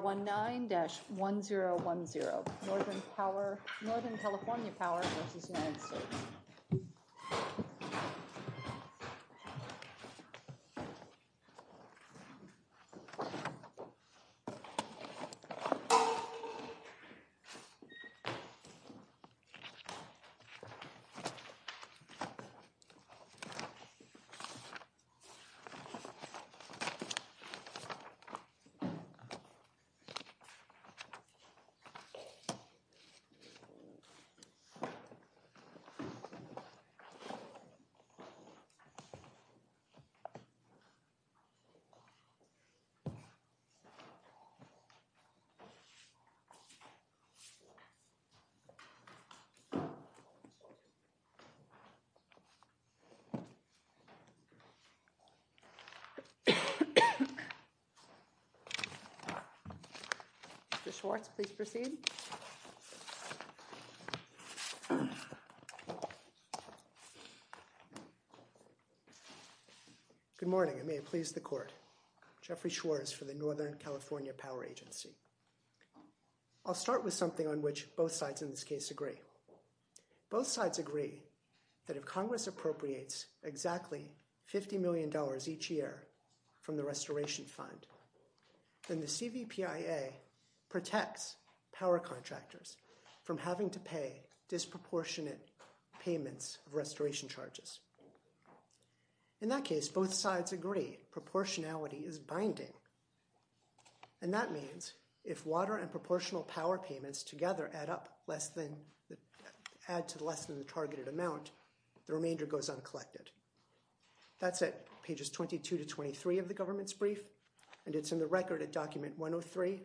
19-1010, Northern California Power versus United States. 19-1010, Northern California Power versus United States Power versus United States Mr. Schwartz, please proceed. Good morning, and may it please the Court. Jeffrey Schwartz for the Northern California Power Agency. I'll start with something on which both sides in this case agree. Both sides agree that if Congress appropriates exactly $50 million each year from the Restoration Fund, then the CVPIA protects power contractors from having to pay disproportionate payments of restoration charges. In that case, both sides agree proportionality is binding, and that means if water and proportional power payments together add to less than the targeted amount, the remainder goes uncollected. That's at pages 22 to 23 of the government's brief, and it's in the record at document 103,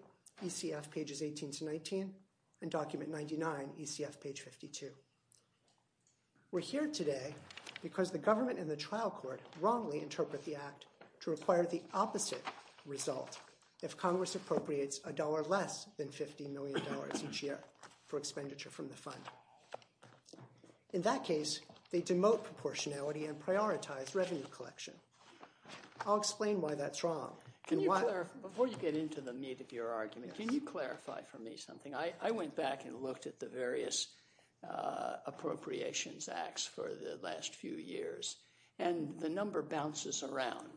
ECF pages 18 to 19, and document 99, ECF page 52. We're here today because the government and the trial court wrongly interpret the act to require the opposite result if Congress appropriates $1 less than $50 million each year for expenditure from the fund. In that case, they demote proportionality and prioritize revenue collection. I'll explain why that's wrong. Before you get into the meat of your argument, can you clarify for me something? I went back and looked at the various appropriations acts for the last few years, and the number bounces around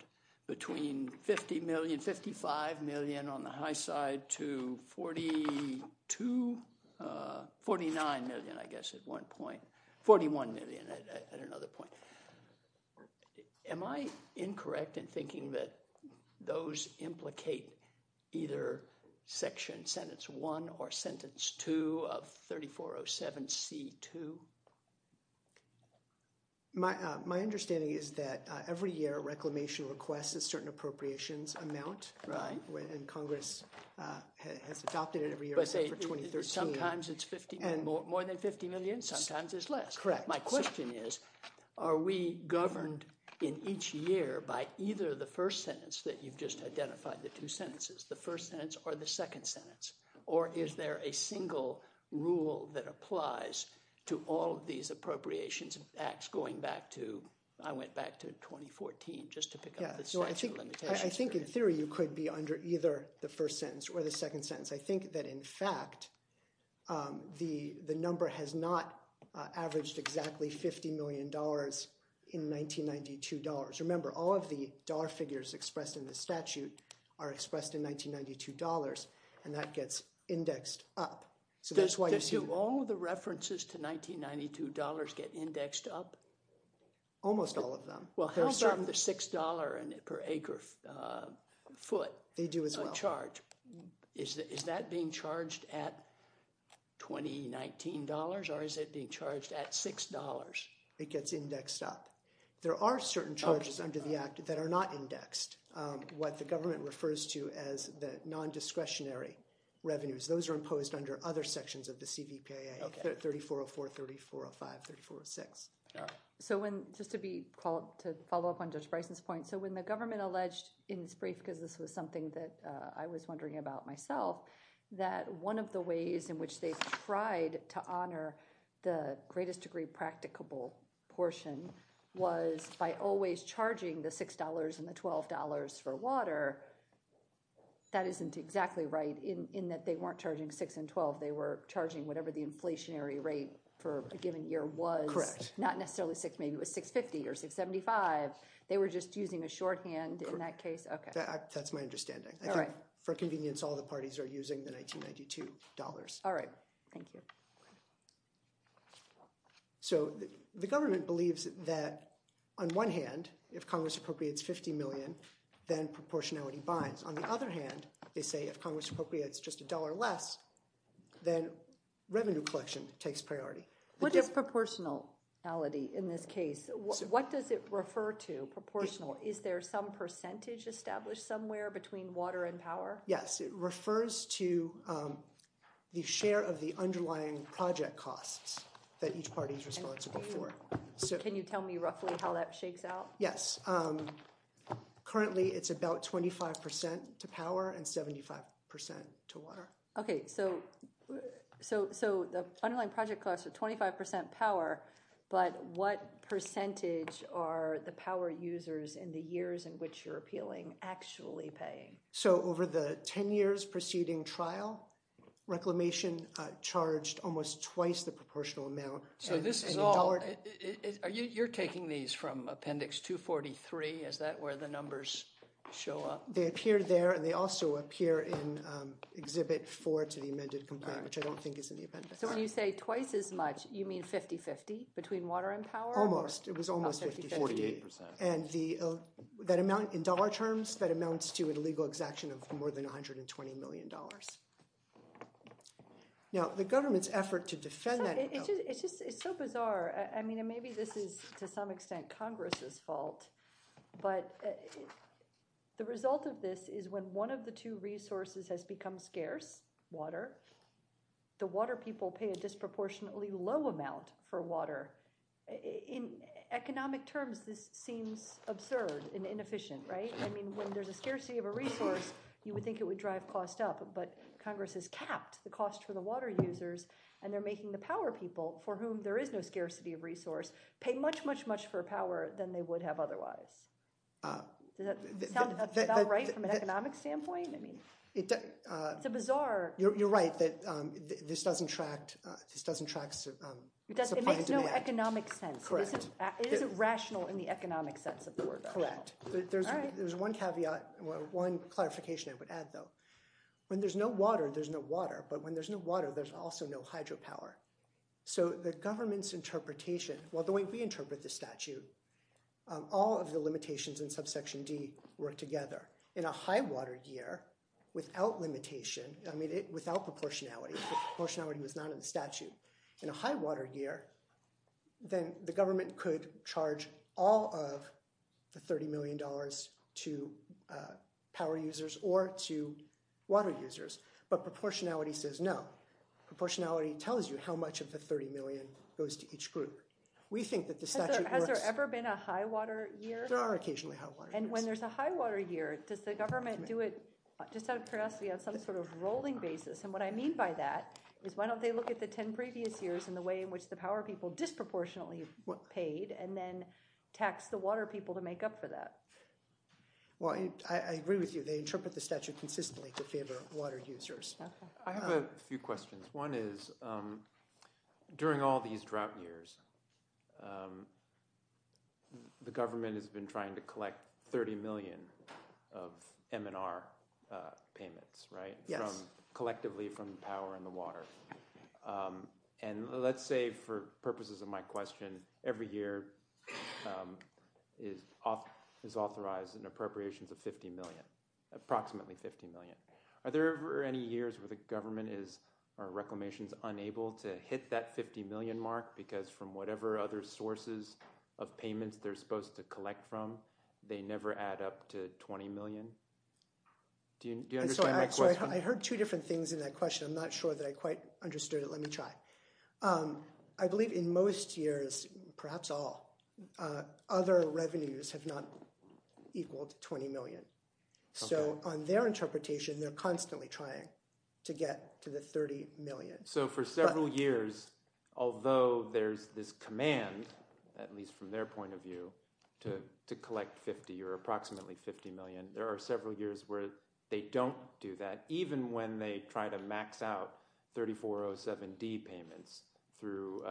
between $50 million, $55 million on the high side to $49 million, I guess, at one point. $41 million at another point. Am I incorrect in thinking that those implicate either section sentence 1 or sentence 2 of 3407C2? My understanding is that every year reclamation requests a certain appropriations amount, and Congress has adopted it every year. But sometimes it's more than $50 million, sometimes it's less. Correct. My question is, are we governed in each year by either the first sentence that you've just identified, the two sentences, the first sentence or the second sentence, or is there a single rule that applies to all of these appropriations acts going back to – I went back to 2014 just to pick up the statute of limitations. I think in theory you could be under either the first sentence or the second sentence. I think that, in fact, the number has not averaged exactly $50 million in 1992 dollars. Just remember, all of the dollar figures expressed in the statute are expressed in 1992 dollars, and that gets indexed up. Does all of the references to 1992 dollars get indexed up? Almost all of them. Well, how about the $6 per acre foot? They do as well. Is that being charged at 2019 dollars, or is it being charged at $6? It gets indexed up. There are certain charges under the act that are not indexed. What the government refers to as the non-discretionary revenues, those are imposed under other sections of the CVPAA, 3404, 3405, 3406. Just to follow up on Judge Bryson's point, when the government alleged in its brief, because this was something that I was wondering about myself, that one of the ways in which they tried to honor the greatest degree practicable portion was by always charging the $6 and the $12 for water. That isn't exactly right in that they weren't charging $6 and $12. They were charging whatever the inflationary rate for a given year was. Correct. Not necessarily $6, maybe it was $6.50 or $6.75. They were just using a shorthand in that case? Correct. Okay. That's my understanding. All right. For convenience, all the parties are using the 1992 dollars. All right. Thank you. So the government believes that on one hand, if Congress appropriates $50 million, then proportionality binds. On the other hand, they say if Congress appropriates just $1 less, then revenue collection takes priority. What is proportionality in this case? What does it refer to, proportional? Is there some percentage established somewhere between water and power? Yes. It refers to the share of the underlying project costs that each party is responsible for. Can you tell me roughly how that shakes out? Yes. Currently, it's about 25% to power and 75% to water. Okay. So the underlying project costs are 25% power, but what percentage are the power users in the years in which you're appealing actually paying? So over the 10 years preceding trial, reclamation charged almost twice the proportional amount. You're taking these from Appendix 243. Is that where the numbers show up? They appear there, and they also appear in Exhibit 4 to the amended complaint, which I don't think is in the appendix. So when you say twice as much, you mean 50-50 between water and power? Almost. It was almost 50-50. About 50-50. 48%. In dollar terms, that amounts to a legal exaction of more than $120 million. Now, the government's effort to defend that— It's just so bizarre. I mean, maybe this is to some extent Congress's fault, but the result of this is when one of the two resources has become scarce, water, the water people pay a disproportionately low amount for water. In economic terms, this seems absurd and inefficient, right? I mean, when there's a scarcity of a resource, you would think it would drive costs up, but Congress has capped the cost for the water users, and they're making the power people, for whom there is no scarcity of resource, pay much, much, much more power than they would have otherwise. Does that sound about right from an economic standpoint? It's a bizarre— In the economic sense. Correct. It isn't rational in the economic sense of the word. Correct. There's one caveat, one clarification I would add, though. When there's no water, there's no water, but when there's no water, there's also no hydropower. So the government's interpretation, well, the way we interpret the statute, all of the limitations in subsection D work together. In a high-water year, without limitation, I mean, without proportionality, if proportionality was not in the statute, in a high-water year, then the government could charge all of the $30 million to power users or to water users. But proportionality says no. Proportionality tells you how much of the $30 million goes to each group. We think that the statute works— Has there ever been a high-water year? There are occasionally high-water years. And when there's a high-water year, does the government do it just out of curiosity on some sort of rolling basis? And what I mean by that is why don't they look at the 10 previous years and the way in which the power people disproportionately paid and then tax the water people to make up for that? Well, I agree with you. They interpret the statute consistently to favor water users. I have a few questions. One is, during all these drought years, the government has been trying to collect $30 million of M&R payments, right? Yes. Collectively from power and the water. And let's say, for purposes of my question, every year is authorized an appropriations of $50 million, approximately $50 million. Are there ever any years where the government is—or Reclamation is unable to hit that $50 million mark? Because from whatever other sources of payments they're supposed to collect from, they never add up to $20 million? Do you understand my question? I'm sorry, I heard two different things in that question. I'm not sure that I quite understood it. Let me try. I believe in most years, perhaps all, other revenues have not equaled $20 million. So on their interpretation, they're constantly trying to get to the $30 million. So for several years, although there's this command, at least from their point of view, to collect $50 or approximately $50 million, there are several years where they don't do that, even when they try to max out 3407D payments through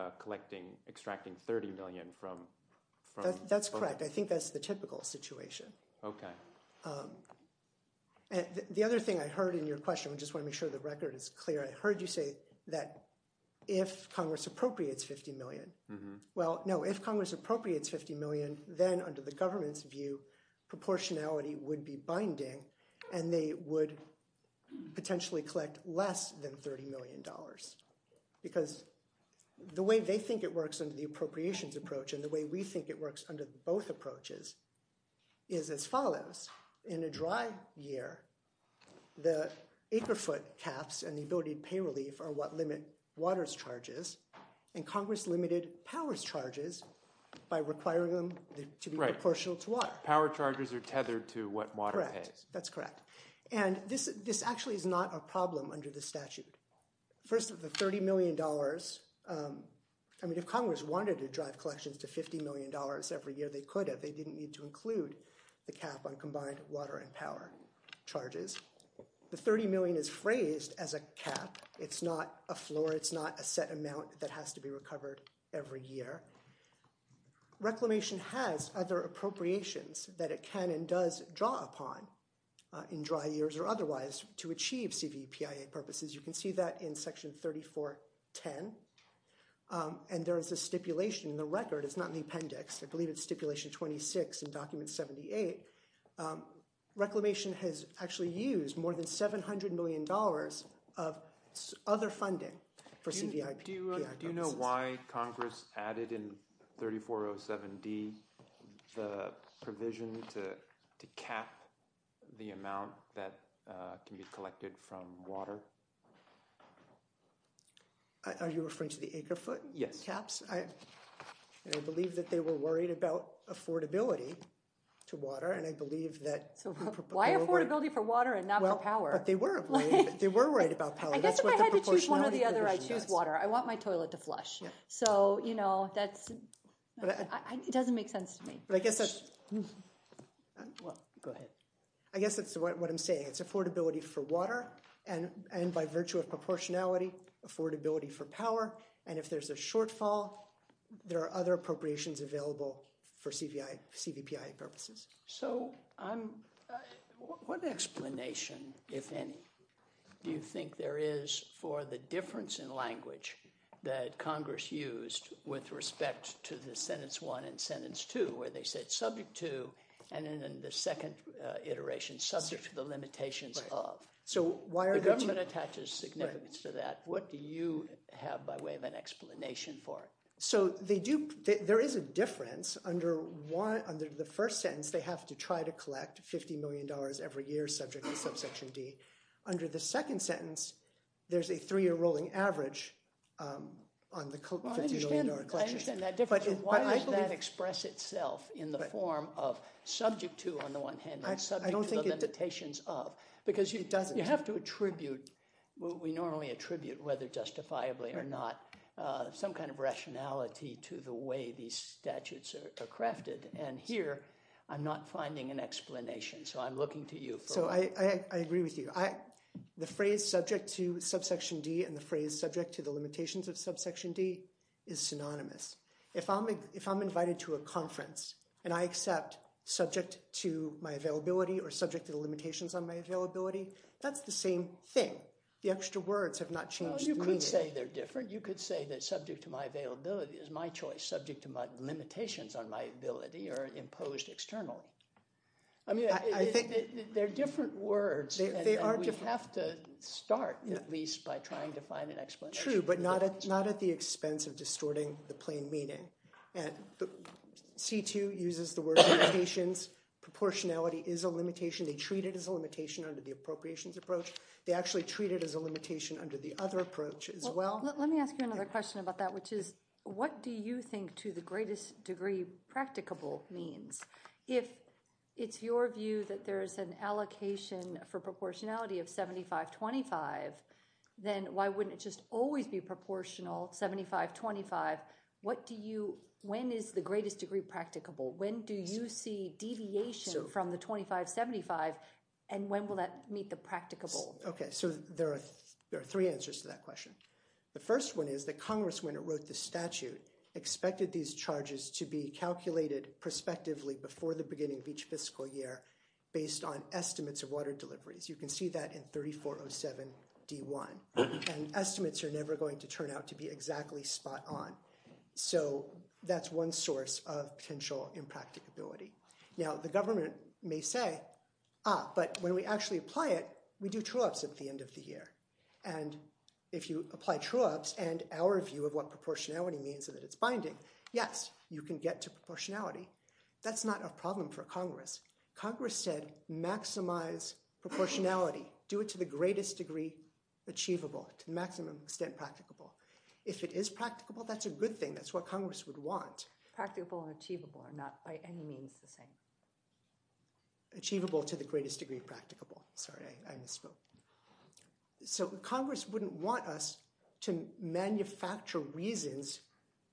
extracting $30 million from— That's correct. I think that's the typical situation. Okay. The other thing I heard in your question—I just want to make sure the record is clear— I heard you say that if Congress appropriates $50 million. Well, no, if Congress appropriates $50 million, then under the government's view, proportionality would be binding, and they would potentially collect less than $30 million. Because the way they think it works under the appropriations approach and the way we think it works under both approaches is as follows. In a dry year, the acre-foot caps and the ability to pay relief are what limit water's charges, and Congress limited power's charges by requiring them to be proportional to water. Right. Power charges are tethered to what water pays. Correct. That's correct. And this actually is not a problem under the statute. First, the $30 million—I mean, if Congress wanted to drive collections to $50 million every year, they could have. They didn't need to include the cap on combined water and power charges. The $30 million is phrased as a cap. It's not a floor. It's not a set amount that has to be recovered every year. Reclamation has other appropriations that it can and does draw upon in dry years or otherwise to achieve CVPIA purposes. You can see that in Section 3410, and there is a stipulation in the record. It's not in the appendix. I believe it's Stipulation 26 in Document 78. Reclamation has actually used more than $700 million of other funding for CVPIA purposes. Do you know why Congress added in 3407D the provision to cap the amount that can be collected from water? Are you referring to the acre-foot caps? Yes. I believe that they were worried about affordability to water, and I believe that— Why affordability for water and not for power? Well, but they were worried about power. I guess if I had to choose one or the other, I'd choose water. I want my toilet to flush. So, you know, that's—it doesn't make sense to me. But I guess that's— Well, go ahead. I guess that's what I'm saying. It's affordability for water, and by virtue of proportionality, affordability for power. And if there's a shortfall, there are other appropriations available for CVPIA purposes. So I'm—what explanation, if any, do you think there is for the difference in language that Congress used with respect to the sentence 1 and sentence 2, where they said subject to, and then in the second iteration, subject to the limitations of? So why are there— The government attaches significance to that. What do you have by way of an explanation for it? So they do—there is a difference. Under the first sentence, they have to try to collect $50 million every year subject to subsection D. Under the second sentence, there's a three-year rolling average on the $50 million collection. Well, I understand that difference, but why does that express itself in the form of subject to, on the one hand, and subject to the limitations of? Because you have to attribute— It doesn't. —some kind of rationality to the way these statutes are crafted. And here, I'm not finding an explanation. So I'm looking to you for— So I agree with you. The phrase subject to subsection D and the phrase subject to the limitations of subsection D is synonymous. If I'm invited to a conference and I accept subject to my availability or subject to the limitations on my availability, that's the same thing. The extra words have not changed the meaning. Well, you could say they're different. You could say that subject to my availability is my choice. Subject to my limitations on my ability are imposed externally. I mean, they're different words, and we have to start at least by trying to find an explanation. True, but not at the expense of distorting the plain meaning. And C-2 uses the word limitations. Proportionality is a limitation. They treat it as a limitation under the appropriations approach. They actually treat it as a limitation under the other approach as well. Well, let me ask you another question about that, which is what do you think to the greatest degree practicable means? If it's your view that there is an allocation for proportionality of 75-25, then why wouldn't it just always be proportional 75-25? What do you—when is the greatest degree practicable? When do you see deviation from the 25-75, and when will that meet the practicable? Okay, so there are three answers to that question. The first one is that Congress, when it wrote the statute, expected these charges to be calculated prospectively before the beginning of each fiscal year based on estimates of water deliveries. You can see that in 3407-D1. And estimates are never going to turn out to be exactly spot on. So that's one source of potential impracticability. Now, the government may say, ah, but when we actually apply it, we do true-ups at the end of the year. And if you apply true-ups and our view of what proportionality means and that it's binding, yes, you can get to proportionality. That's not a problem for Congress. Congress said maximize proportionality. Do it to the greatest degree achievable, to the maximum extent practicable. If it is practicable, that's a good thing. That's what Congress would want. Practicable and achievable are not by any means the same. Achievable to the greatest degree practicable. Sorry, I misspoke. So Congress wouldn't want us to manufacture reasons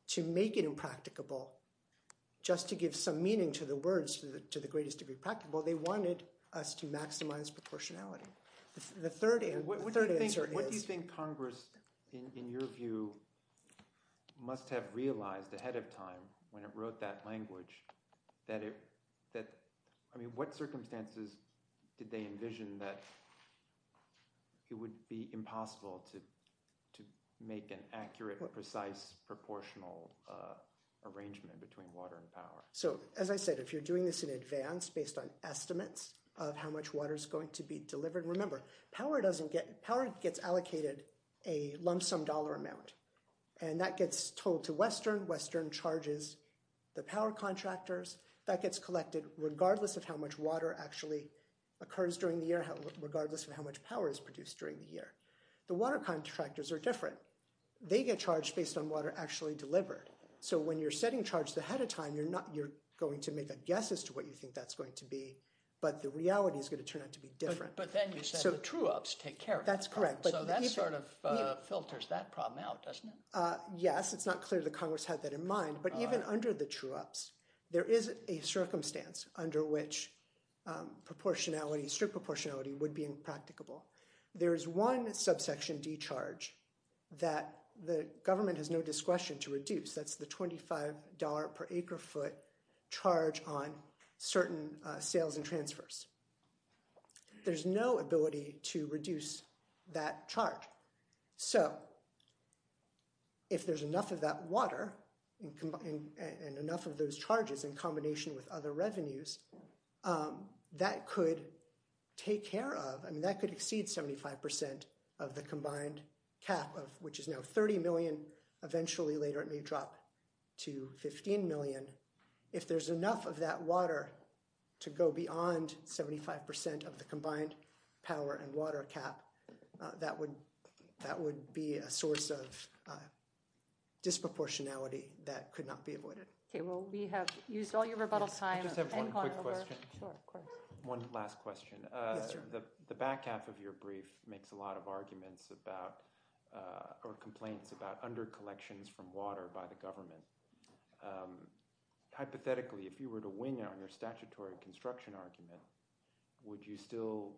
to make it impracticable just to give some meaning to the words to the greatest degree practicable. They wanted us to maximize proportionality. What do you think Congress, in your view, must have realized ahead of time when it wrote that language? What circumstances did they envision that it would be impossible to make an accurate, precise, proportional arrangement between water and power? So as I said, if you're doing this in advance based on estimates of how much water is going to be delivered, remember, power gets allocated a lump sum dollar amount. And that gets told to Western. Western charges the power contractors. That gets collected regardless of how much water actually occurs during the year, regardless of how much power is produced during the year. The water contractors are different. They get charged based on water actually delivered. So when you're setting charges ahead of time, you're going to make a guess as to what you think that's going to be. But the reality is going to turn out to be different. But then you said the true-ups take care of it. That's correct. So that sort of filters that problem out, doesn't it? Yes. It's not clear that Congress had that in mind. But even under the true-ups, there is a circumstance under which proportionality, strict proportionality, would be impracticable. There is one subsection D charge that the government has no discretion to reduce. That's the $25 per acre foot charge on certain sales and transfers. There's no ability to reduce that charge. So if there's enough of that water and enough of those charges in combination with other revenues, that could take care of—I mean, that could exceed 75% of the combined cap, which is now $30 million. Eventually later it may drop to $15 million. If there's enough of that water to go beyond 75% of the combined power and water cap, that would be a source of disproportionality that could not be avoided. Okay. Well, we have used all your rebuttal time. I just have one quick question. Sure. One last question. Yes, sir. The back half of your brief makes a lot of arguments about or complaints about undercollections from water by the government. Hypothetically, if you were to wing out your statutory construction argument, would you still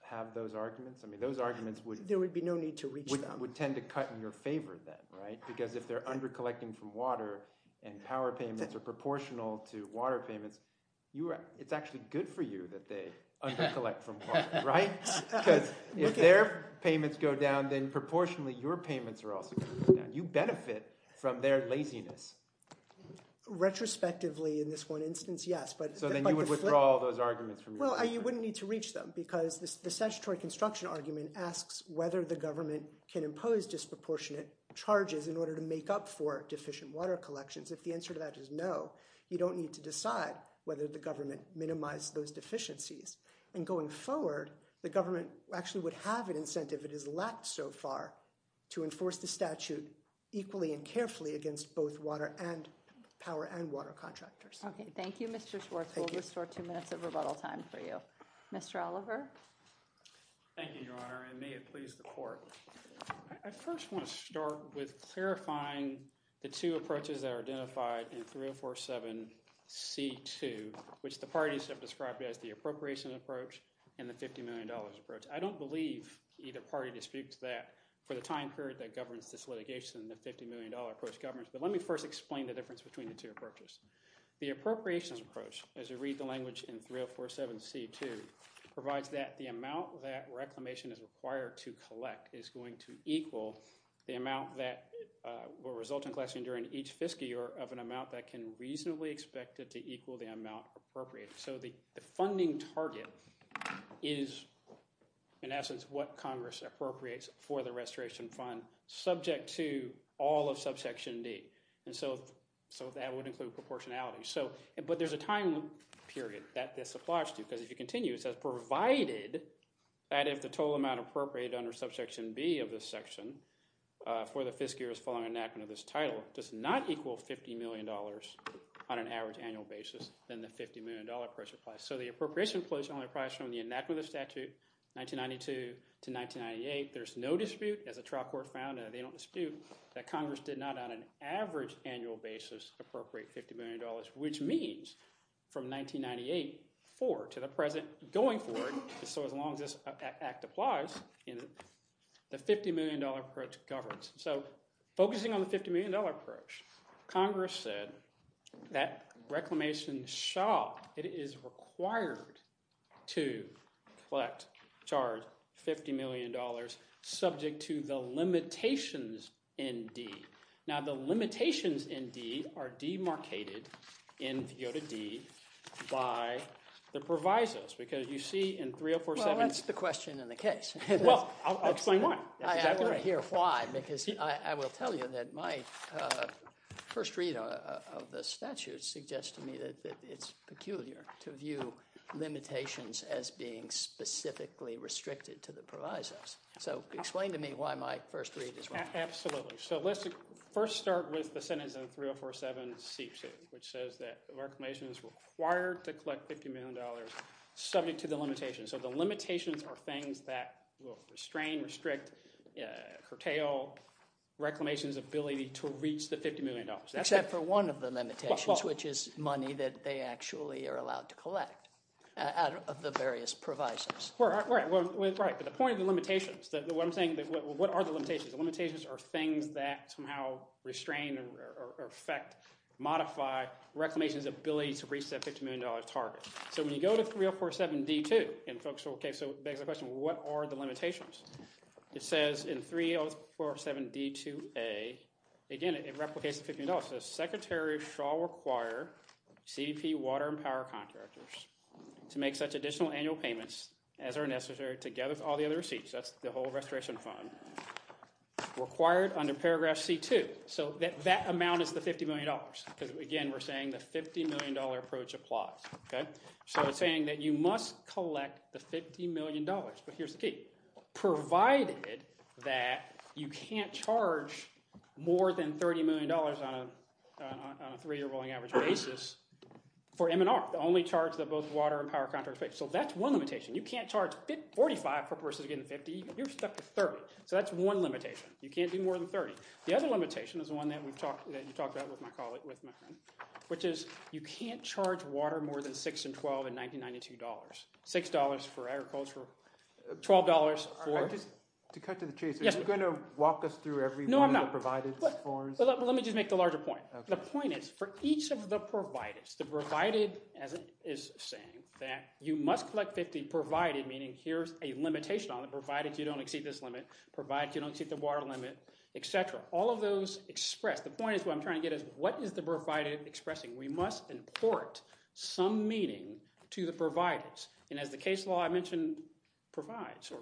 have those arguments? I mean, those arguments would— There would be no need to reach them. Would tend to cut in your favor then, right? Because if they're undercollecting from water and power payments are proportional to water payments, it's actually good for you that they undercollect from water, right? Because if their payments go down, then proportionally your payments are also going to go down. You benefit from their laziness. Retrospectively, in this one instance, yes. So then you would withdraw all those arguments from your— Well, you wouldn't need to reach them because the statutory construction argument asks whether the government can impose disproportionate charges in order to make up for deficient water collections. If the answer to that is no, you don't need to decide whether the government minimized those deficiencies. And going forward, the government actually would have an incentive if it has lacked so far to enforce the statute equally and carefully against both water and power and water contractors. Okay. Thank you, Mr. Schwartz. We'll restore two minutes of rebuttal time for you. Mr. Oliver? Thank you, Your Honor, and may it please the court. I first want to start with clarifying the two approaches that are identified in 3047C2, which the parties have described as the appropriation approach and the $50 million approach. I don't believe either party to speak to that. For the time period that governs this litigation, the $50 million approach governs. But let me first explain the difference between the two approaches. The appropriations approach, as you read the language in 3047C2, provides that the amount that reclamation is required to collect is going to equal the amount that will result in classing during each fiscal year of an amount that can reasonably expect it to equal the amount appropriated. So the funding target is, in essence, what Congress appropriates for the restoration fund, subject to all of subsection D. So that would include proportionality. But there's a time period that this applies to. Because if you continue, it says provided that if the total amount appropriated under subsection B of this section for the fiscal year following enactment of this title does not equal $50 million on an average annual basis, then the $50 million approach applies. So the appropriation approach only applies from the enactment of the statute 1992 to 1998. There's no dispute. As a trial court found, and they don't dispute, that Congress did not on an average annual basis appropriate $50 million, which means from 1998 forward to the present going forward. So as long as this act applies, the $50 million approach governs. So focusing on the $50 million approach, Congress said that Reclamation shall, it is required to collect, charge $50 million, subject to the limitations in D. Now, the limitations in D are demarcated in the O to D by the provisos. Because you see in 3047— Well, that's the question in the case. Well, I'll explain why. I want to hear why, because I will tell you that my first read of the statute suggests to me that it's peculiar to view limitations as being specifically restricted to the provisos. So explain to me why my first read is wrong. Absolutely. So let's first start with the sentence in 3047C, which says that Reclamation is required to collect $50 million subject to the limitations. So the limitations are things that will restrain, restrict, curtail Reclamation's ability to reach the $50 million. Except for one of the limitations, which is money that they actually are allowed to collect out of the various provisos. Right. But the point of the limitations, what I'm saying, what are the limitations? The limitations are things that somehow restrain or affect, modify Reclamation's ability to reach that $50 million target. So when you go to 3047D-2 and folks are—OK, so it begs the question, what are the limitations? It says in 3047D-2A, again, it replicates the $50 million. It says, Secretary shall require CBP water and power contractors to make such additional annual payments as are necessary together with all the other receipts. That's the whole restoration fund. Required under paragraph C-2. So that amount is the $50 million because, again, we're saying the $50 million approach applies. So it's saying that you must collect the $50 million. But here's the key. Provided that you can't charge more than $30 million on a three-year rolling average basis for M&R, the only charge that both water and power contractors pay. So that's one limitation. You can't charge 45% versus getting 50%. You're stuck at 30%. So that's one limitation. You can't do more than 30%. The other limitation is the one that you talked about with my friend, which is you can't charge water more than $6 and $12 in 1992 dollars. $6 for agriculture, $12 for— To cut to the chase, are you going to walk us through every one of the provided forms? No, I'm not. But let me just make the larger point. The point is for each of the provided, the provided is saying that you must collect $50 provided, meaning here's a limitation on it. Provided you don't exceed this limit, provided you don't exceed the water limit, et cetera. All of those express—the point is what I'm trying to get at is what is the provided expressing? We must import some meaning to the provided. And as the case law I mentioned provides—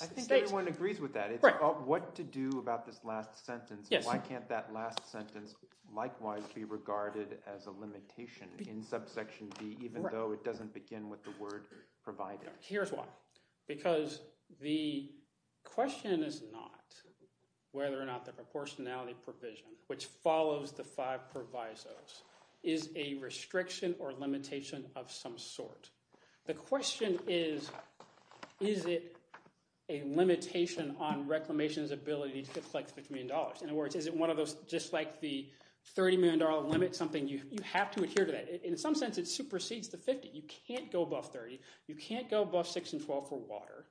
I think everyone agrees with that. It's about what to do about this last sentence. Why can't that last sentence likewise be regarded as a limitation in subsection D even though it doesn't begin with the word provided? Here's why. Because the question is not whether or not the proportionality provision, which follows the five provisos, is a restriction or limitation of some sort. The question is, is it a limitation on reclamation's ability to collect $50 million? In other words, is it one of those—just like the $30 million limit, something you have to adhere to that. In some sense, it supersedes the 50. You can't go above 30. You can't go above 6 and 12 for water.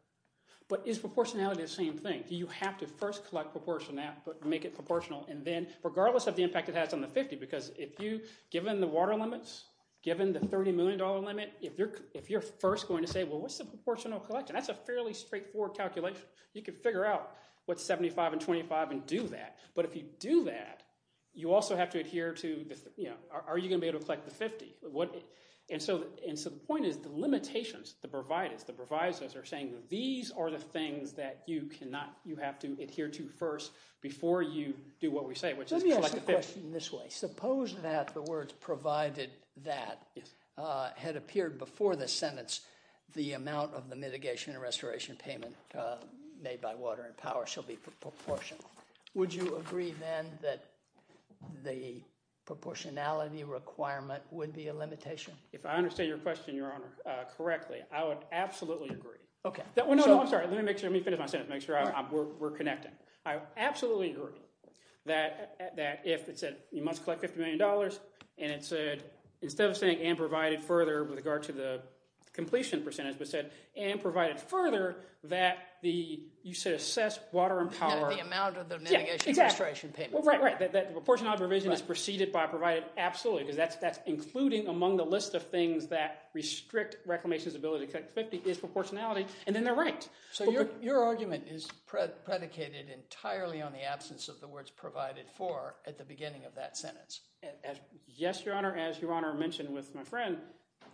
But is proportionality the same thing? Do you have to first collect proportion—make it proportional and then—regardless of the impact it has on the 50? Because if you—given the water limits, given the $30 million limit, if you're first going to say, well, what's the proportional collection? That's a fairly straightforward calculation. You can figure out what's 75 and 25 and do that. But if you do that, you also have to adhere to the—are you going to be able to collect the 50? And so the point is the limitations, the provisos are saying that these are the things that you cannot—you have to adhere to first before you do what we say, which is collect the 50. Let me ask a question this way. Suppose that the words provided that had appeared before the sentence, the amount of the mitigation and restoration payment made by Water and Power shall be proportional. Would you agree then that the proportionality requirement would be a limitation? If I understand your question, Your Honor, correctly, I would absolutely agree. No, I'm sorry. Let me finish my sentence and make sure we're connecting. I absolutely agree that if it said you must collect $50 million and it said—instead of saying and provided further with regard to the completion percentage, but said and provided further that the—you said assess Water and Power— The amount of the mitigation and restoration payment. Right, right. That the proportionality provision is preceded by provided absolutely because that's including among the list of things that restrict reclamation's ability to collect 50 is proportionality, and then they're right. So your argument is predicated entirely on the absence of the words provided for at the beginning of that sentence. Yes, Your Honor. As Your Honor mentioned with my friend,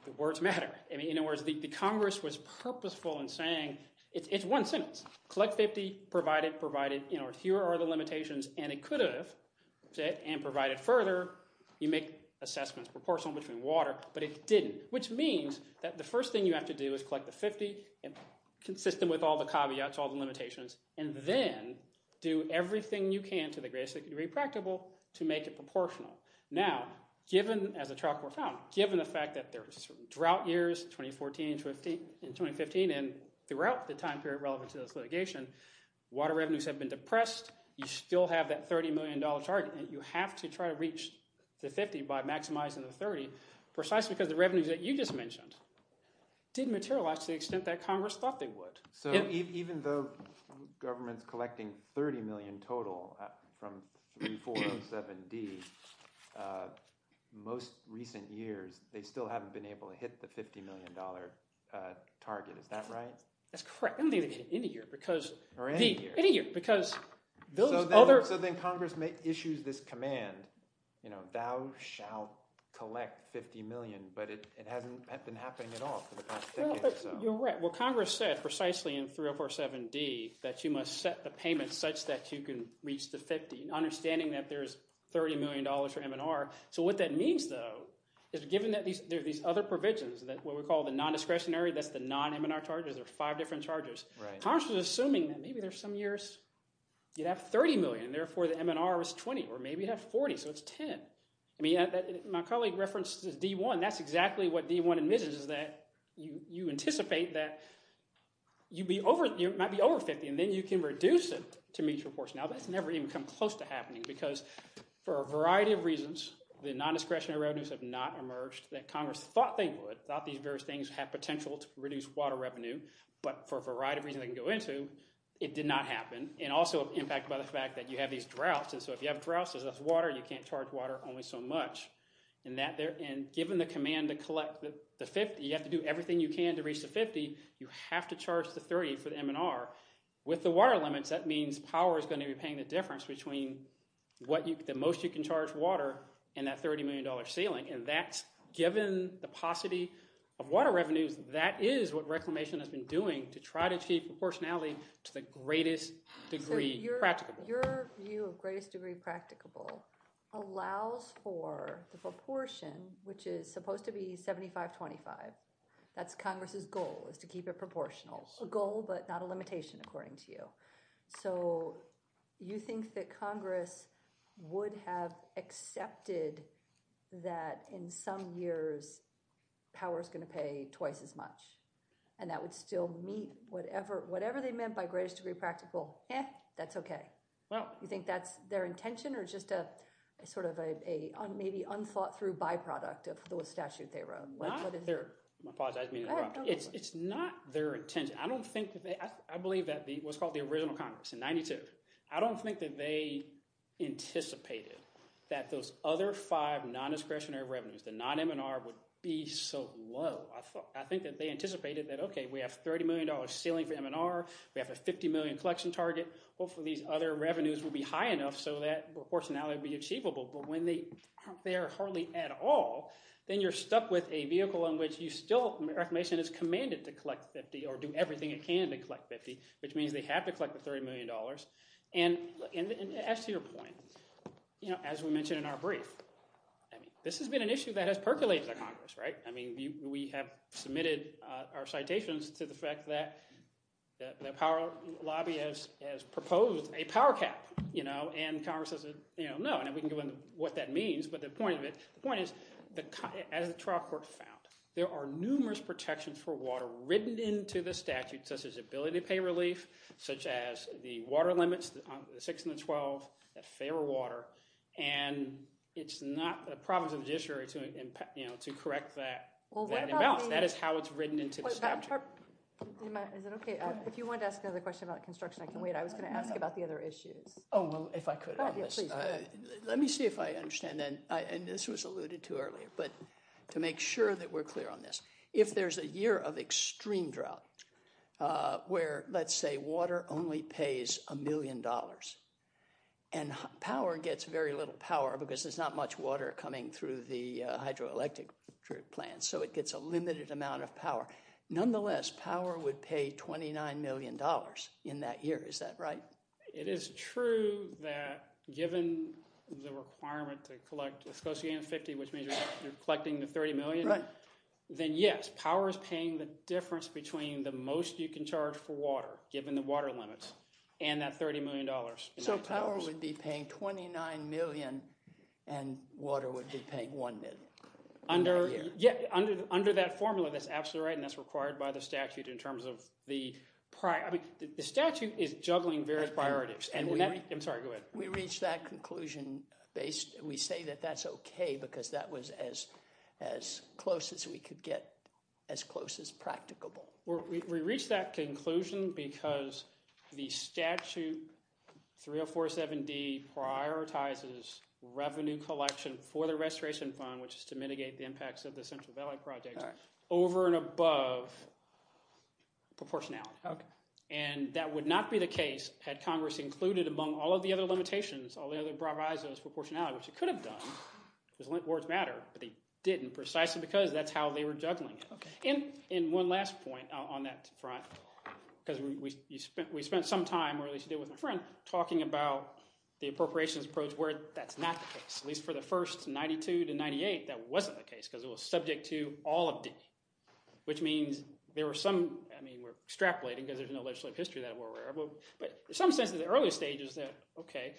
the words matter. In other words, the Congress was purposeful in saying it's one sentence. Collect 50, provide it, provide it. Here are the limitations, and it could have said and provided further. You make assessments proportional between water, but it didn't, which means that the first thing you have to do is collect the 50. Consistent with all the caveats, all the limitations, and then do everything you can to the greatest degree practicable to make it proportional. Now, given—as a trial court found—given the fact that there are drought years, 2014 and 2015, and throughout the time period relevant to this litigation, water revenues have been depressed. You still have that $30 million target, and you have to try to reach the 50 by maximizing the 30 precisely because the revenues that you just mentioned didn't materialize to the extent that Congress thought they would. So even though government's collecting $30 million total from 3407D, most recent years they still haven't been able to hit the $50 million target. Is that right? That's correct. I don't think they've hit it any year because— Or any year. Any year because those other— So then Congress issues this command, thou shalt collect 50 million, but it hasn't been happening at all for the past decade or so. You're right. Well, Congress said precisely in 3047D that you must set the payment such that you can reach the 50, understanding that there's $30 million for M&R. So what that means, though, is given that there are these other provisions, what we call the non-discretionary, that's the non-M&R charges. There are five different charges. Congress was assuming that maybe there's some years you'd have $30 million, and therefore the M&R was 20, or maybe you'd have 40, so it's 10. I mean my colleague referenced D1. That's exactly what D1 admits is that you anticipate that you might be over 50, and then you can reduce it to meet your portion. Now, that's never even come close to happening because for a variety of reasons, the non-discretionary revenues have not emerged that Congress thought they would, thought these various things have potential to reduce water revenue. But for a variety of reasons they can go into, it did not happen, and also impacted by the fact that you have these droughts. And so if you have droughts, there's less water. You can't charge water only so much. And given the command to collect the 50, you have to do everything you can to reach the 50. You have to charge the 30 for the M&R. With the water limits, that means power is going to be paying the difference between the most you can charge water and that $30 million ceiling. And that's – given the paucity of water revenues, that is what Reclamation has been doing to try to achieve proportionality to the greatest degree practicable. Your view of greatest degree practicable allows for the proportion, which is supposed to be 75-25. That's Congress' goal is to keep it proportional. A goal but not a limitation according to you. So you think that Congress would have accepted that in some years power is going to pay twice as much and that would still meet whatever they meant by greatest degree practical? Eh, that's okay. You think that's their intention or just a sort of a maybe unthought-through byproduct of the statute they wrote? I apologize. It's not their intention. I don't think – I believe that what's called the original Congress in 1992. I don't think that they anticipated that those other five non-discretionary revenues, the non-M&R, would be so low. I think that they anticipated that, okay, we have $30 million ceiling for M&R. We have a $50 million collection target. Hopefully these other revenues will be high enough so that proportionality would be achievable. But when they aren't there hardly at all, then you're stuck with a vehicle in which you still – Reformation is commanded to collect 50 or do everything it can to collect 50, which means they have to collect the $30 million. And as to your point, as we mentioned in our brief, this has been an issue that has percolated in Congress. I mean we have submitted our citations to the fact that the power lobby has proposed a power cap, and Congress has said no, and we can go into what that means. But the point of it – the point is as the trial court found, there are numerous protections for water written into the statute such as ability to pay relief, such as the water limits, the 6 and the 12, that favor water. And it's not the province of the judiciary to correct that imbalance. That is how it's written into the statute. Is it okay if you wanted to ask another question about construction? I can wait. I was going to ask about the other issues. Oh, well, if I could on this. Let me see if I understand. And this was alluded to earlier. But to make sure that we're clear on this. If there's a year of extreme drought where, let's say, water only pays a million dollars and power gets very little power because there's not much water coming through the hydroelectric plant, so it gets a limited amount of power. Nonetheless, power would pay $29 million in that year. Is that right? It is true that given the requirement to collect – it's supposed to be $50 million, which means you're collecting the $30 million. Then, yes, power is paying the difference between the most you can charge for water, given the water limits, and that $30 million. So power would be paying $29 million and water would be paying $1 million. Under that formula, that's absolutely right, and that's required by the statute in terms of the – The statute is juggling various priorities. I'm sorry, go ahead. We reached that conclusion based – we say that that's okay because that was as close as we could get, as close as practicable. We reached that conclusion because the statute 3047D prioritizes revenue collection for the restoration fund, which is to mitigate the impacts of the Central Valley Project, over and above proportionality. That would not be the case had Congress included, among all of the other limitations, all the other prioritizes for proportionality, which it could have done. Those words matter, but they didn't precisely because that's how they were juggling it. One last point on that front because we spent some time, or at least I did with my friend, talking about the appropriations approach where that's not the case. At least for the first 92 to 98, that wasn't the case because it was subject to all of D, which means there were some – I mean we're extrapolating because there's no legislative history that we're aware of. But in some sense in the early stages that, okay,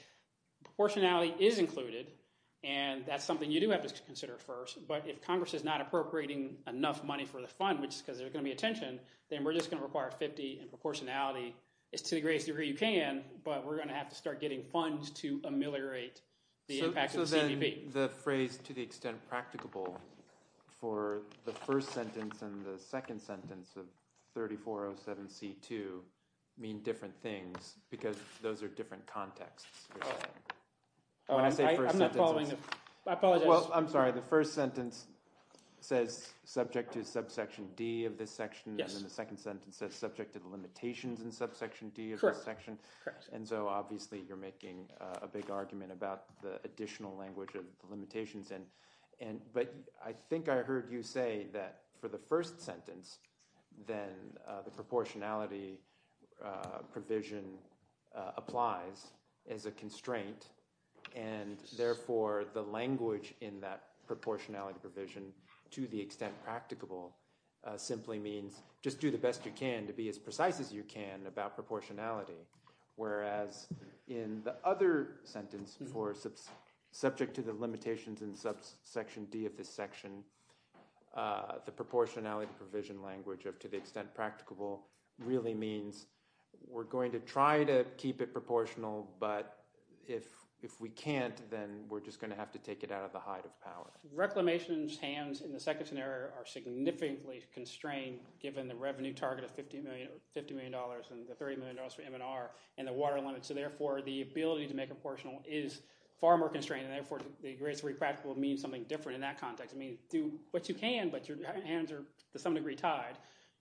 proportionality is included, and that's something you do have to consider first. But if Congress is not appropriating enough money for the fund, which is because there's going to be a tension, then we're just going to require 50 and proportionality is to the greatest degree you can. But we're going to have to start getting funds to ameliorate the impact of the CBP. I think the phrase to the extent practicable for the first sentence and the second sentence of 3407C2 mean different things because those are different contexts. Oh, I'm not following the – I apologize. Well, I'm sorry. The first sentence says subject to subsection D of this section, and the second sentence says subject to the limitations in subsection D of this section. Correct. And so obviously you're making a big argument about the additional language of the limitations. But I think I heard you say that for the first sentence, then the proportionality provision applies as a constraint. And therefore, the language in that proportionality provision to the extent practicable simply means just do the best you can to be as precise as you can about proportionality. Whereas in the other sentence for subject to the limitations in subsection D of this section, the proportionality provision language of to the extent practicable really means we're going to try to keep it proportional, but if we can't, then we're just going to have to take it out of the height of power. Reclamation's hands in the second scenario are significantly constrained given the revenue target of $50 million and the $30 million for M&R and the water limit. So therefore, the ability to make it proportional is far more constrained, and therefore, the degree to which it's practicable means something different in that context. I mean do what you can, but your hands are to some degree tied.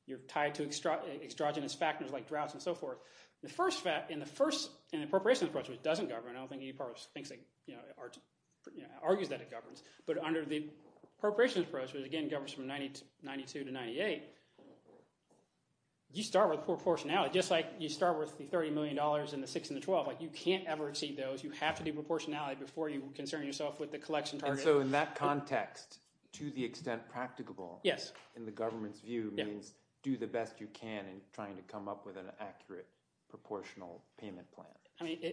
You're tied to extravagant factors like droughts and so forth. In the appropriations approach, which doesn't govern, I don't think any part of it argues that it governs. But under the appropriations approach, which again governs from 1992 to 1998, you start with proportionality. Just like you start with the $30 million and the 6 and the 12. You can't ever exceed those. You have to do proportionality before you concern yourself with the collection target. So in that context, to the extent practicable in the government's view means do the best you can in trying to come up with an accurate proportional payment plan. I mean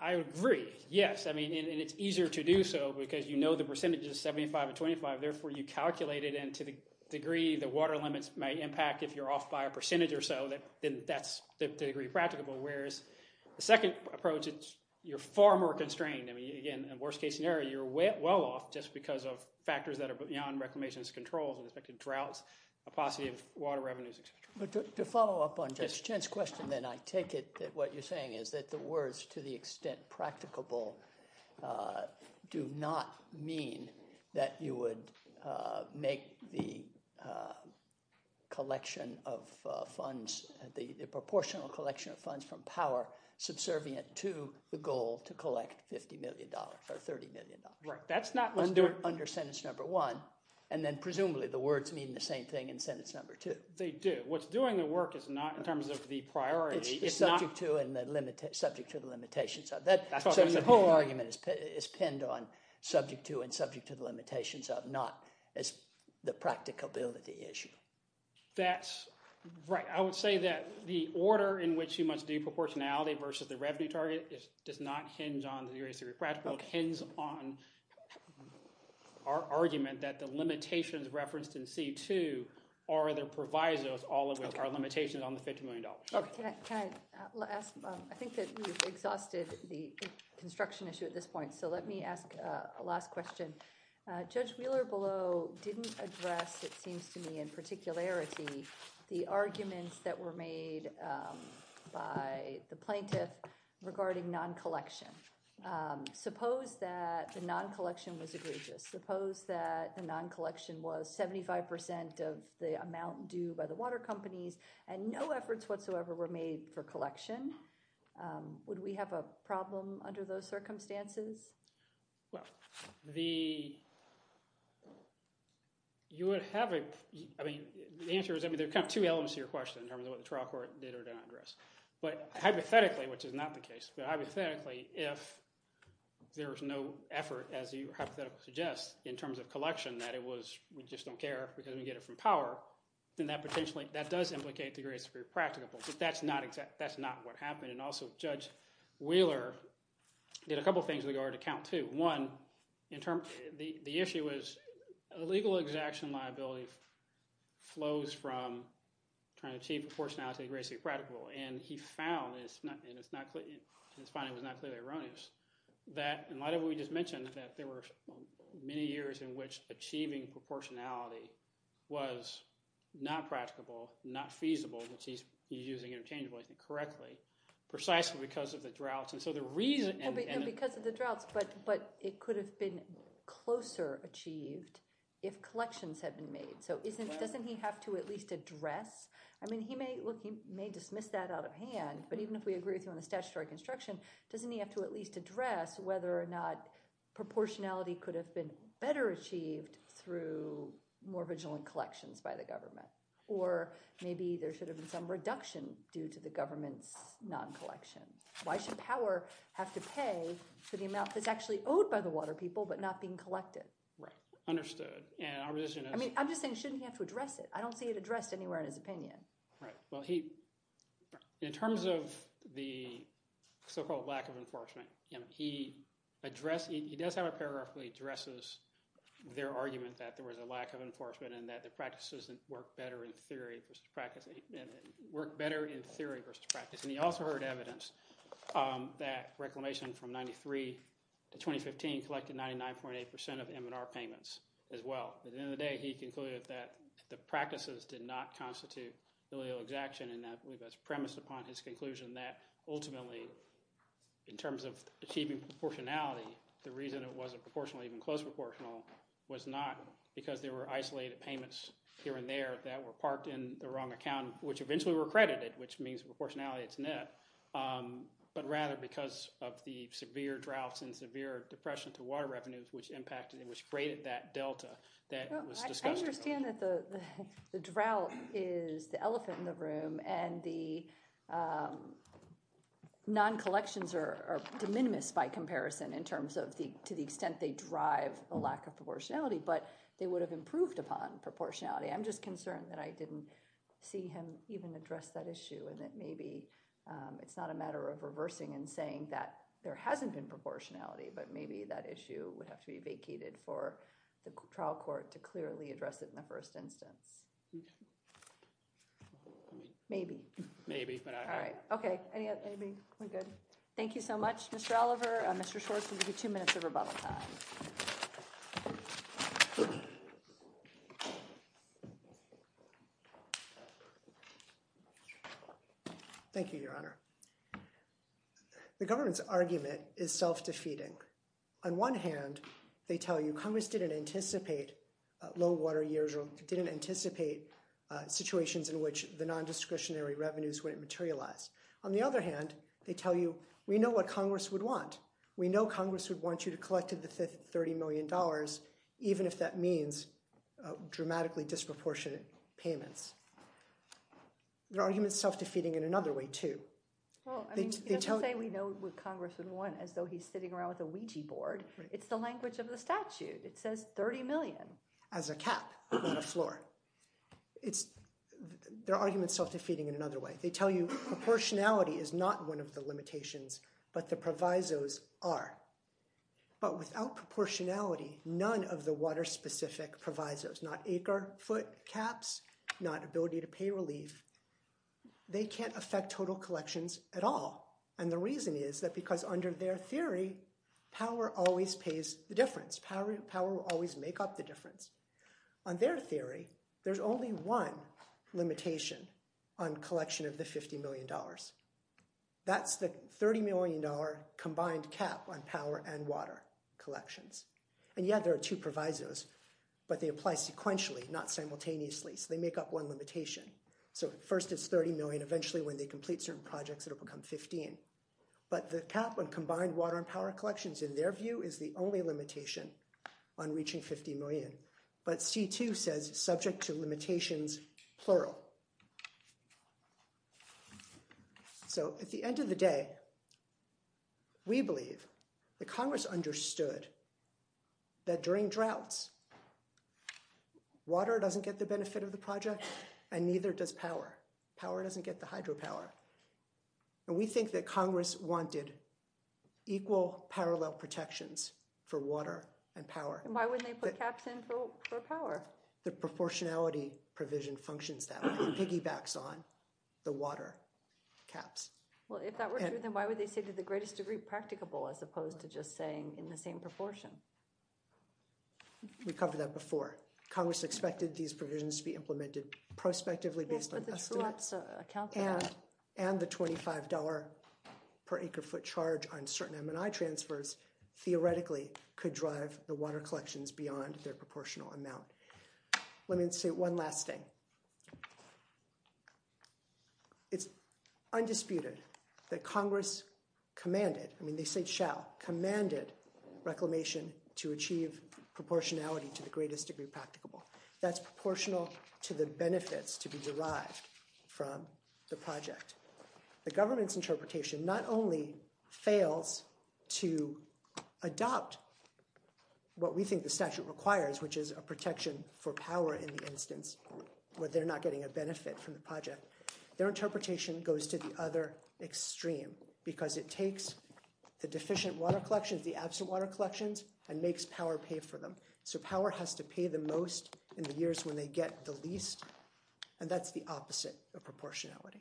I agree, yes. I mean it's easier to do so because you know the percentage is 75 to 25. Therefore, you calculate it, and to the degree the water limits might impact if you're off by a percentage or so, then that's the degree practicable. Whereas the second approach, you're far more constrained. I mean again, in the worst case scenario, you're well off just because of factors that are beyond reclamation's controls with respect to droughts, capacity of water revenues, et cetera. But to follow up on Jen's question then, I take it that what you're saying is that the words to the extent practicable do not mean that you would make the collection of funds, the proportional collection of funds from power subservient to the goal to collect $50 million or $30 million. Right. That's not listed under sentence number one, and then presumably the words mean the same thing in sentence number two. They do. What's doing the work is not in terms of the priority. It's the subject to and subject to the limitations of. So the whole argument is pinned on subject to and subject to the limitations of, not as the practicability issue. That's right. I would say that the order in which you must do proportionality versus the revenue target does not hinge on the degree of practical. It hinges on our argument that the limitations referenced in C-2 are the provisos, all of which are limitations on the $50 million. Can I ask? I think that you've exhausted the construction issue at this point, so let me ask a last question. Judge Wheeler-Below didn't address, it seems to me in particularity, the arguments that were made by the plaintiff regarding non-collection. Suppose that the non-collection was egregious. Suppose that the non-collection was 75% of the amount due by the water companies and no efforts whatsoever were made for collection. Would we have a problem under those circumstances? Well, the – you would have a – I mean the answer is – I mean there are kind of two elements to your question in terms of what the trial court did or did not address. But hypothetically, which is not the case, but hypothetically if there was no effort as you hypothetically suggest in terms of collection that it was we just don't care because we get it from power, then that potentially – that does implicate the greatest degree of practicability. But that's not what happened. And also Judge Wheeler did a couple of things in regard to count two. One, in terms – the issue was illegal exaction liability flows from trying to achieve proportionality of the greatest degree of practicability. And he found, and it's not – his finding was not clearly erroneous, that in light of what we just mentioned that there were many years in which achieving proportionality was not practicable, not feasible. Which he's using interchangeably, I think correctly, precisely because of the droughts. And so the reason – No, because of the droughts. But it could have been closer achieved if collections had been made. So isn't – doesn't he have to at least address – I mean he may – look, he may dismiss that out of hand. But even if we agree with you on the statutory construction, doesn't he have to at least address whether or not proportionality could have been better achieved through more vigilant collections by the government? Or maybe there should have been some reduction due to the government's non-collection. Why should power have to pay for the amount that's actually owed by the water people but not being collected? Right, understood. And our position is – I mean I'm just saying shouldn't he have to address it? I don't see it addressed anywhere in his opinion. Right. Well, he – in terms of the so-called lack of enforcement, he addressed – he does have a paragraph where he addresses their argument that there was a lack of enforcement and that the practices work better in theory versus practice. And he also heard evidence that reclamation from 1993 to 2015 collected 99.8% of M&R payments as well. At the end of the day, he concluded that the practices did not constitute illegal exaction. And I believe that's premised upon his conclusion that ultimately in terms of achieving proportionality, the reason it wasn't proportionally even close proportional was not because there were isolated payments here and there that were parked in the wrong account, which eventually were credited, which means proportionality is net. But rather because of the severe droughts and severe depression to water revenues, which impacted and which braided that delta that was discussed. I understand that the drought is the elephant in the room and the non-collections are de minimis by comparison in terms of the – to the extent they drive a lack of proportionality, but they would have improved upon proportionality. I'm just concerned that I didn't see him even address that issue and that maybe it's not a matter of reversing and saying that there hasn't been proportionality, but maybe that issue would have to be vacated for the trial court to clearly address it in the first instance. Maybe. Maybe. All right. Okay. Thank you so much, Mr. Oliver. Mr. Schwartz will give you two minutes of rebuttal time. Thank you, Your Honor. The government's argument is self-defeating. On one hand, they tell you Congress didn't anticipate low water years or didn't anticipate situations in which the non-discretionary revenues wouldn't materialize. On the other hand, they tell you we know what Congress would want. We know Congress would want you to collect the $30 million, even if that means dramatically disproportionate payments. Their argument is self-defeating in another way, too. Well, I mean, you don't say we know what Congress would want as though he's sitting around with a Ouija board. It's the language of the statute. It says $30 million. As a cap, not a floor. Their argument is self-defeating in another way. They tell you proportionality is not one of the limitations, but the provisos are. But without proportionality, none of the water-specific provisos, not acre, foot, caps, not ability to pay relief, they can't affect total collections at all. And the reason is that because under their theory, power always pays the difference. On their theory, there's only one limitation on collection of the $50 million. That's the $30 million combined cap on power and water collections. And, yeah, there are two provisos, but they apply sequentially, not simultaneously, so they make up one limitation. So first it's $30 million. Eventually, when they complete certain projects, it will become $15. But the cap on combined water and power collections, in their view, is the only limitation on reaching $50 million. But C2 says subject to limitations, plural. So at the end of the day, we believe that Congress understood that during droughts, water doesn't get the benefit of the project, and neither does power. Power doesn't get the hydropower. And we think that Congress wanted equal parallel protections for water and power. And why wouldn't they put caps in for power? The proportionality provision functions that way. It piggybacks on the water caps. Well, if that were true, then why would they say to the greatest degree practicable as opposed to just saying in the same proportion? We covered that before. Congress expected these provisions to be implemented prospectively based on estimates. And the $25 per acre foot charge on certain M&I transfers theoretically could drive the water collections beyond their proportional amount. Let me say one last thing. It's undisputed that Congress commanded, I mean they say shall, commanded Reclamation to achieve proportionality to the greatest degree practicable. That's proportional to the benefits to be derived from the project. The government's interpretation not only fails to adopt what we think the statute requires, which is a protection for power in the instance where they're not getting a benefit from the project. Their interpretation goes to the other extreme because it takes the deficient water collections, the absent water collections, and makes power pay for them. So power has to pay the most in the years when they get the least, and that's the opposite of proportionality.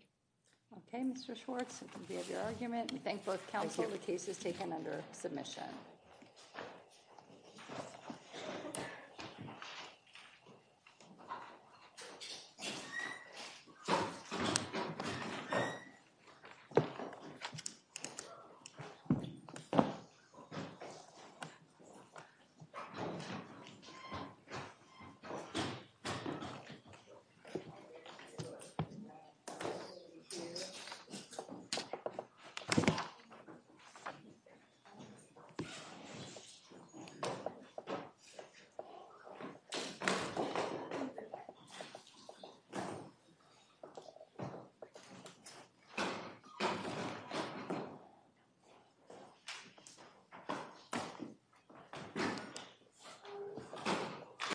Okay, Mr. Schwartz, we have your argument. We thank both counsel. The case is taken under submission. Thank you. Thank you.